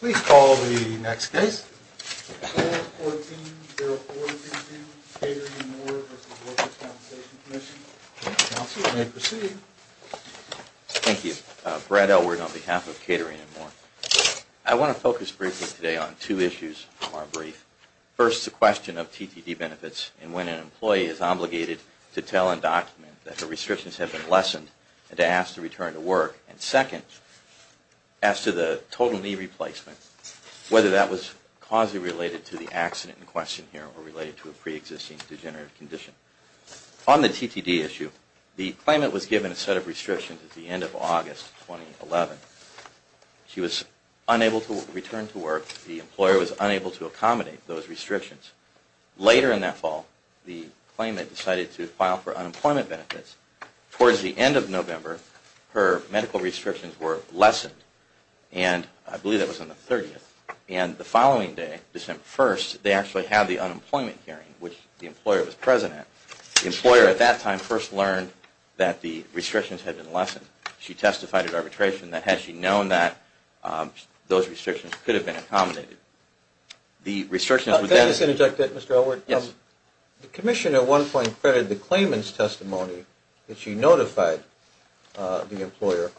Please call the next case. Call 14-04-15, Catering & More v. Workers' Compensation Commission. Counsel may proceed. Thank you. Brad Elward on behalf of Catering & More. I want to focus briefly today on two issues from our brief. First, the question of TTD benefits and when an employee is obligated to tell and document that her restrictions have been lessened and to ask to return to work. And second, as to the total knee replacement, whether that was causally related to the accident in question here or related to a preexisting degenerative condition. On the TTD issue, the claimant was given a set of restrictions at the end of August 2011. She was unable to return to work. The employer was unable to accommodate those restrictions. Later in that fall, the claimant decided to file for unemployment benefits. Towards the end of November, her medical restrictions were lessened, and I believe that was on the 30th. And the following day, December 1st, they actually had the unemployment hearing, which the employer was present at. The employer at that time first learned that the restrictions had been lessened. She testified at arbitration that had she known that, those restrictions could have been accommodated. Can I just interject, Mr. Elwood? Yes. The commission at one point credited the claimant's testimony that she notified the employer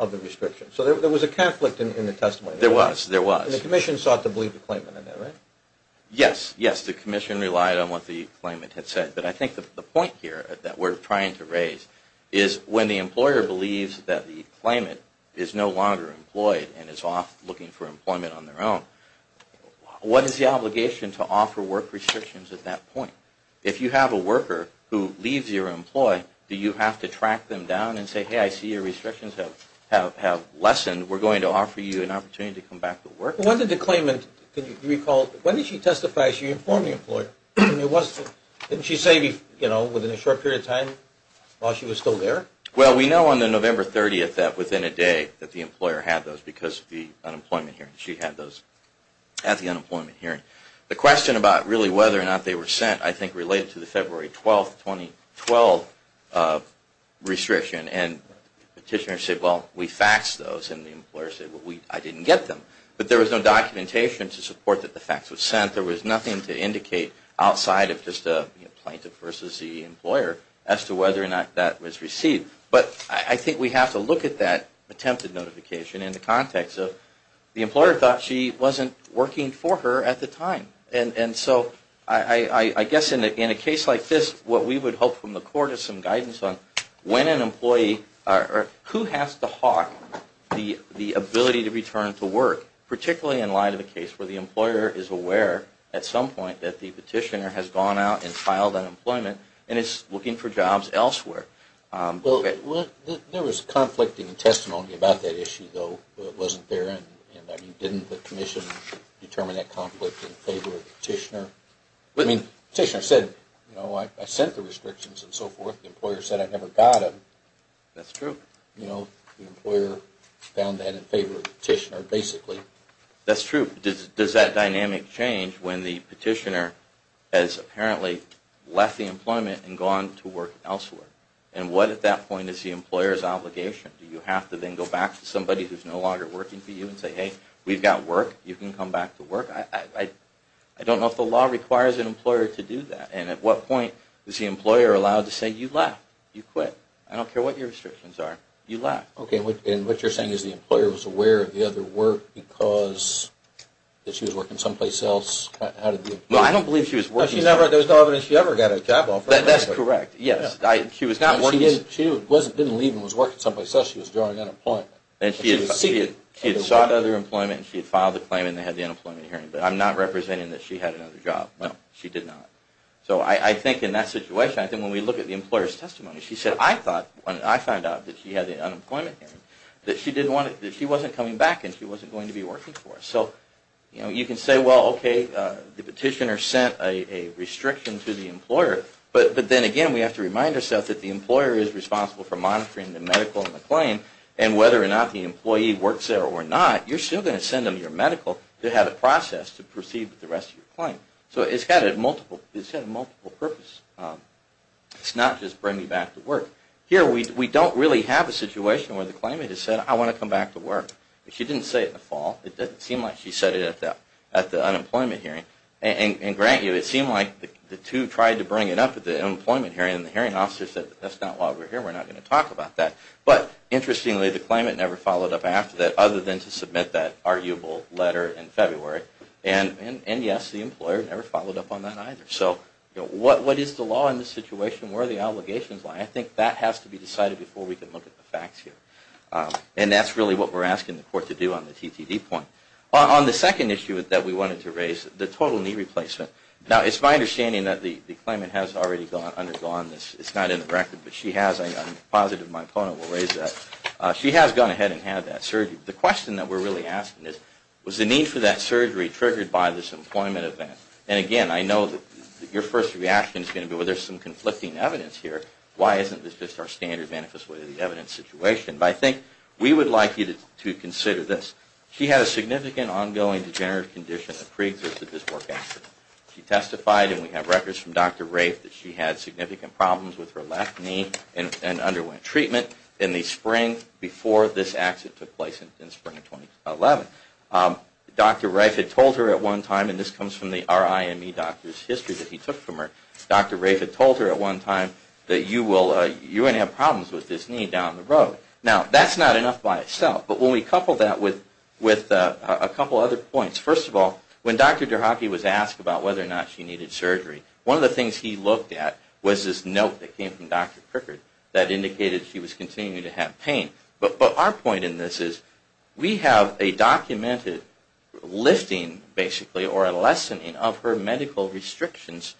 of the restrictions. So there was a conflict in the testimony. There was, there was. And the commission sought to believe the claimant in that, right? Yes, yes. The commission relied on what the claimant had said. But I think the point here that we're trying to raise is when the employer believes that the claimant is no longer employed and is off looking for employment on their own, what is the obligation to offer work restrictions at that point? If you have a worker who leaves your employ, do you have to track them down and say, hey, I see your restrictions have, have, have lessened, we're going to offer you an opportunity to come back to work? When did the claimant, can you recall, when did she testify, she informed the employer? And it wasn't, didn't she say, you know, within a short period of time while she was still there? Well, we know on the November 30th that within a day that the employer had those because of the unemployment hearing. She had those at the unemployment hearing. The question about really whether or not they were sent, I think, related to the February 12th, 2012 restriction. And petitioners said, well, we faxed those. And the employer said, well, we, I didn't get them. But there was no documentation to support that the fax was sent. There was nothing to indicate outside of just a plaintiff versus the employer as to whether or not that was received. But I think we have to look at that attempted notification in the context of the employer thought she wasn't working for her at the time. And so I guess in a case like this, what we would hope from the court is some guidance on when an employee, who has to hawk the ability to return to work, particularly in light of a case where the employer is aware at some point that the petitioner has gone out and filed unemployment and is looking for jobs elsewhere. Well, there was conflicting testimony about that issue, though, but it wasn't there. And, I mean, didn't the commission determine that conflict in favor of the petitioner? I mean, the petitioner said, you know, I sent the restrictions and so forth. The employer said I never got them. That's true. You know, the employer found that in favor of the petitioner, basically. That's true. Does that dynamic change when the petitioner has apparently left the employment and gone to work elsewhere? And what at that point is the employer's obligation? Do you have to then go back to somebody who's no longer working for you and say, hey, we've got work. You can come back to work. I don't know if the law requires an employer to do that. And at what point is the employer allowed to say, you left. You quit. I don't care what your restrictions are. You left. Okay, and what you're saying is the employer was aware of the other work because she was working someplace else. How did the employer know? No, I don't believe she was working somewhere else. There was no evidence she ever got a job offer. That's correct, yes. She was not working. She didn't leave and was working someplace else. She was drawing unemployment. She had sought other employment and she had filed the claim and they had the unemployment hearing. But I'm not representing that she had another job. No, she did not. So I think in that situation, I think when we look at the employer's testimony, she said, I thought when I found out that she had the unemployment hearing that she wasn't coming back and she wasn't going to be working for us. So you can say, well, okay, the petitioner sent a restriction to the employer. But then again, we have to remind ourselves that the employer is responsible for monitoring the medical and the claim and whether or not the employee works there or not, you're still going to send them your medical to have it processed to proceed with the rest of your claim. So it's got a multiple purpose. It's not just bringing you back to work. Here we don't really have a situation where the claimant has said, I want to come back to work. She didn't say it in the fall. It doesn't seem like she said it at the unemployment hearing. And grant you, it seemed like the two tried to bring it up at the unemployment hearing and the hearing officer said, that's not why we're here. We're not going to talk about that. But interestingly, the claimant never followed up after that, other than to submit that arguable letter in February. And yes, the employer never followed up on that either. So what is the law in this situation? Where are the obligations? I think that has to be decided before we can look at the facts here. And that's really what we're asking the court to do on the TTD point. On the second issue that we wanted to raise, the total knee replacement. Now, it's my understanding that the claimant has already undergone this. It's not in the record, but she has. I'm positive my opponent will raise that. She has gone ahead and had that surgery. The question that we're really asking is, was the need for that surgery triggered by this employment event? And again, I know that your first reaction is going to be, well, there's some conflicting evidence here. Why isn't this just our standard manifest way of the evidence situation? But I think we would like you to consider this. She had a significant ongoing degenerative condition that preexisted this work accident. She testified, and we have records from Dr. Rafe, that she had significant problems with her left knee and underwent treatment in the spring before this accident took place in the spring of 2011. Dr. Rafe had told her at one time, and this comes from the RIME doctor's history that he took from her, Dr. Rafe had told her at one time that you will have problems with this knee down the road. Now, that's not enough by itself. But when we couple that with a couple other points, first of all, when Dr. Derhaki was asked about whether or not she needed surgery, one of the things he looked at was this note that came from Dr. Crickard that indicated she was continuing to have pain. But our point in this is we have a documented lifting, basically, or a lessening of her medical restrictions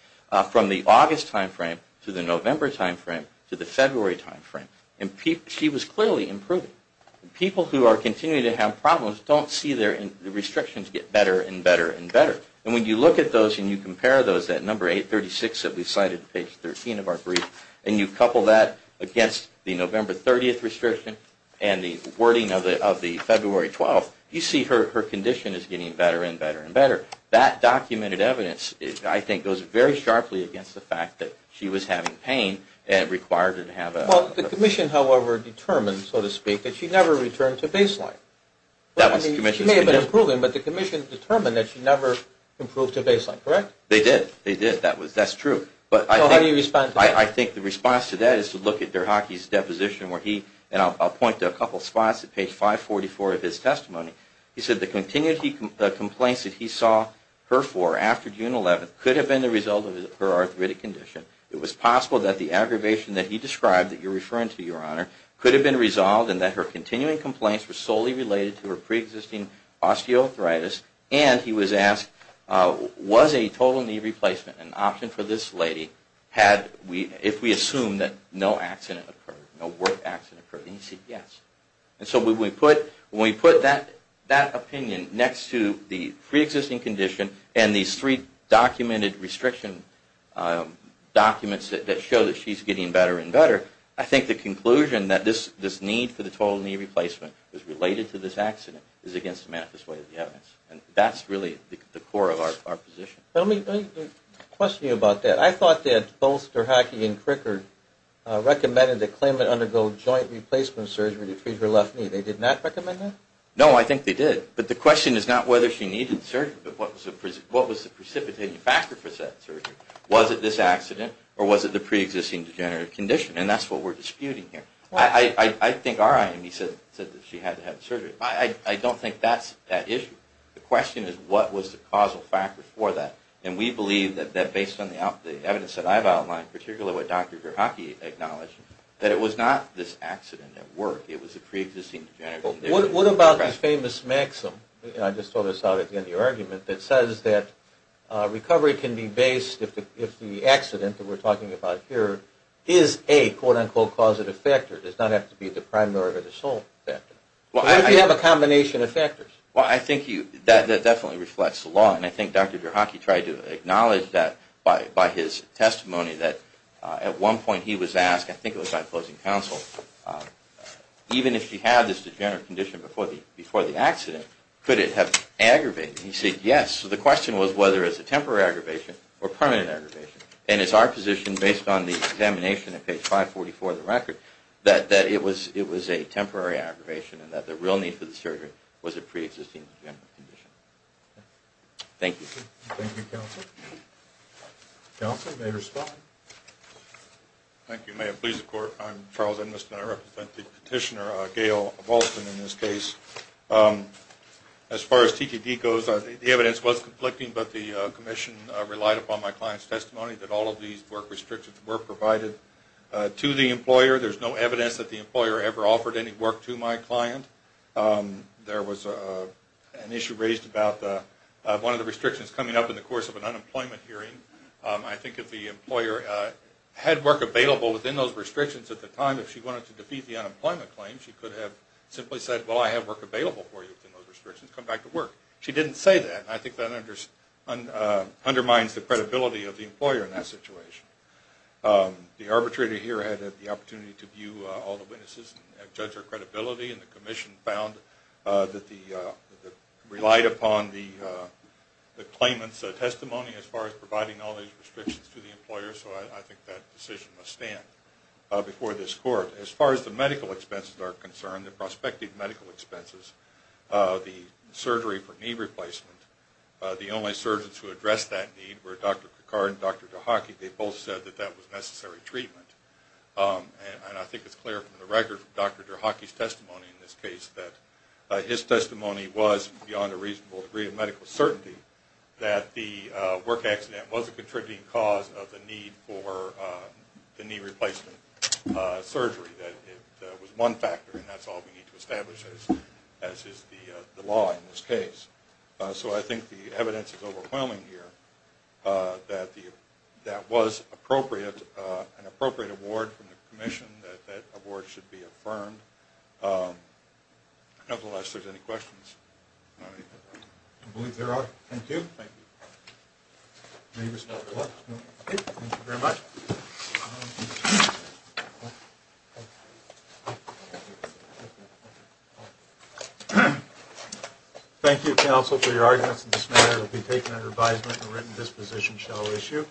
from the August timeframe to the November timeframe to the February timeframe. And she was clearly improving. People who are continuing to have problems don't see their restrictions get better and better and better. And when you look at those and you compare those, that number 836 that we cited in page 13 of our brief, and you couple that against the November 30th restriction and the wording of the February 12th, you see her condition is getting better and better and better. That documented evidence, I think, goes very sharply against the fact that she was having pain and required to have a... Well, the commission, however, determined, so to speak, that she never returned to baseline. She may have been improving, but the commission determined that she never improved to baseline, correct? They did. They did. That's true. So how do you respond to that? I think the response to that is to look at Derhaki's deposition where he, and I'll point to a couple spots at page 544 of his testimony. He said the continued complaints that he saw her for after June 11th could have been the result of her arthritic condition. It was possible that the aggravation that he described that you're referring to, Your Honor, could have been resolved and that her continuing complaints were solely related to her pre-existing osteoarthritis. And he was asked, was a total knee replacement an option for this lady if we assume that no accident occurred, no work accident occurred? And he said yes. And so when we put that opinion next to the pre-existing condition and these three documented restriction documents that show that she's getting better and better, I think the conclusion that this need for the total knee replacement was related to this accident is against the manifest way of the evidence. And that's really the core of our position. Let me question you about that. I thought that both Derhaki and Crickard recommended that Klayman undergo joint replacement surgery to treat her left knee. They did not recommend that? No, I think they did. But the question is not whether she needed surgery, but what was the precipitating factor for that surgery? Was it this accident or was it the pre-existing degenerative condition? And that's what we're disputing here. I think our IME said that she had to have surgery. I don't think that's at issue. The question is what was the causal factor for that? And we believe that based on the evidence that I've outlined, particularly what Dr. Derhaki acknowledged, that it was not this accident at work. It was a pre-existing degenerative condition. What about this famous maxim? I just thought I saw it in your argument. It says that recovery can be based if the accident that we're talking about here is a quote-unquote causative factor. It does not have to be the primary or the sole factor. What if you have a combination of factors? Well, I think that definitely reflects the law. And I think Dr. Derhaki tried to acknowledge that by his testimony that at one point he was asked, I think it was by opposing counsel, even if she had this degenerative condition before the accident, could it have aggravated? And he said yes. So the question was whether it's a temporary aggravation or permanent aggravation. And it's our position, based on the examination at page 544 of the record, that it was a temporary aggravation and that the real need for the surgery was a pre-existing degenerative condition. Thank you. Thank you, Counselor. Counselor, may I respond? Thank you. May it please the Court. I'm Charles Ennis, and I represent the petitioner, Gail Volston, in this case. As far as TDD goes, the evidence was conflicting, but the commission relied upon my client's testimony that all of these work restrictions were provided to the employer. There's no evidence that the employer ever offered any work to my client. There was an issue raised about one of the restrictions coming up in the course of an unemployment hearing. I think if the employer had work available within those restrictions at the time, if she wanted to defeat the unemployment claim, she could have simply said, well, I have work available for you within those restrictions, come back to work. She didn't say that, and I think that undermines the credibility of the employer in that situation. The arbitrator here had the opportunity to view all the witnesses and judge their credibility, and the commission relied upon the claimant's testimony as far as providing all these restrictions to the employer, so I think that decision must stand before this Court. As far as the medical expenses are concerned, the prospective medical expenses, the surgery for knee replacement, the only surgeons who addressed that need were Dr. Picard and Dr. DeHockey. They both said that that was necessary treatment, and I think it's clear from the record from Dr. DeHockey's testimony in this case that his testimony was beyond a reasonable degree of medical certainty that the work accident was a contributing cause of the need for the knee replacement surgery, that it was one factor, and that's all we need to establish, as is the law in this case. So I think the evidence is overwhelming here that that was appropriate, an appropriate award from the commission, that that award should be affirmed. Nevertheless, if there's any questions. Thank you very much. Thank you, counsel, for your arguments. This matter will be taken under advisement, and written disposition shall issue.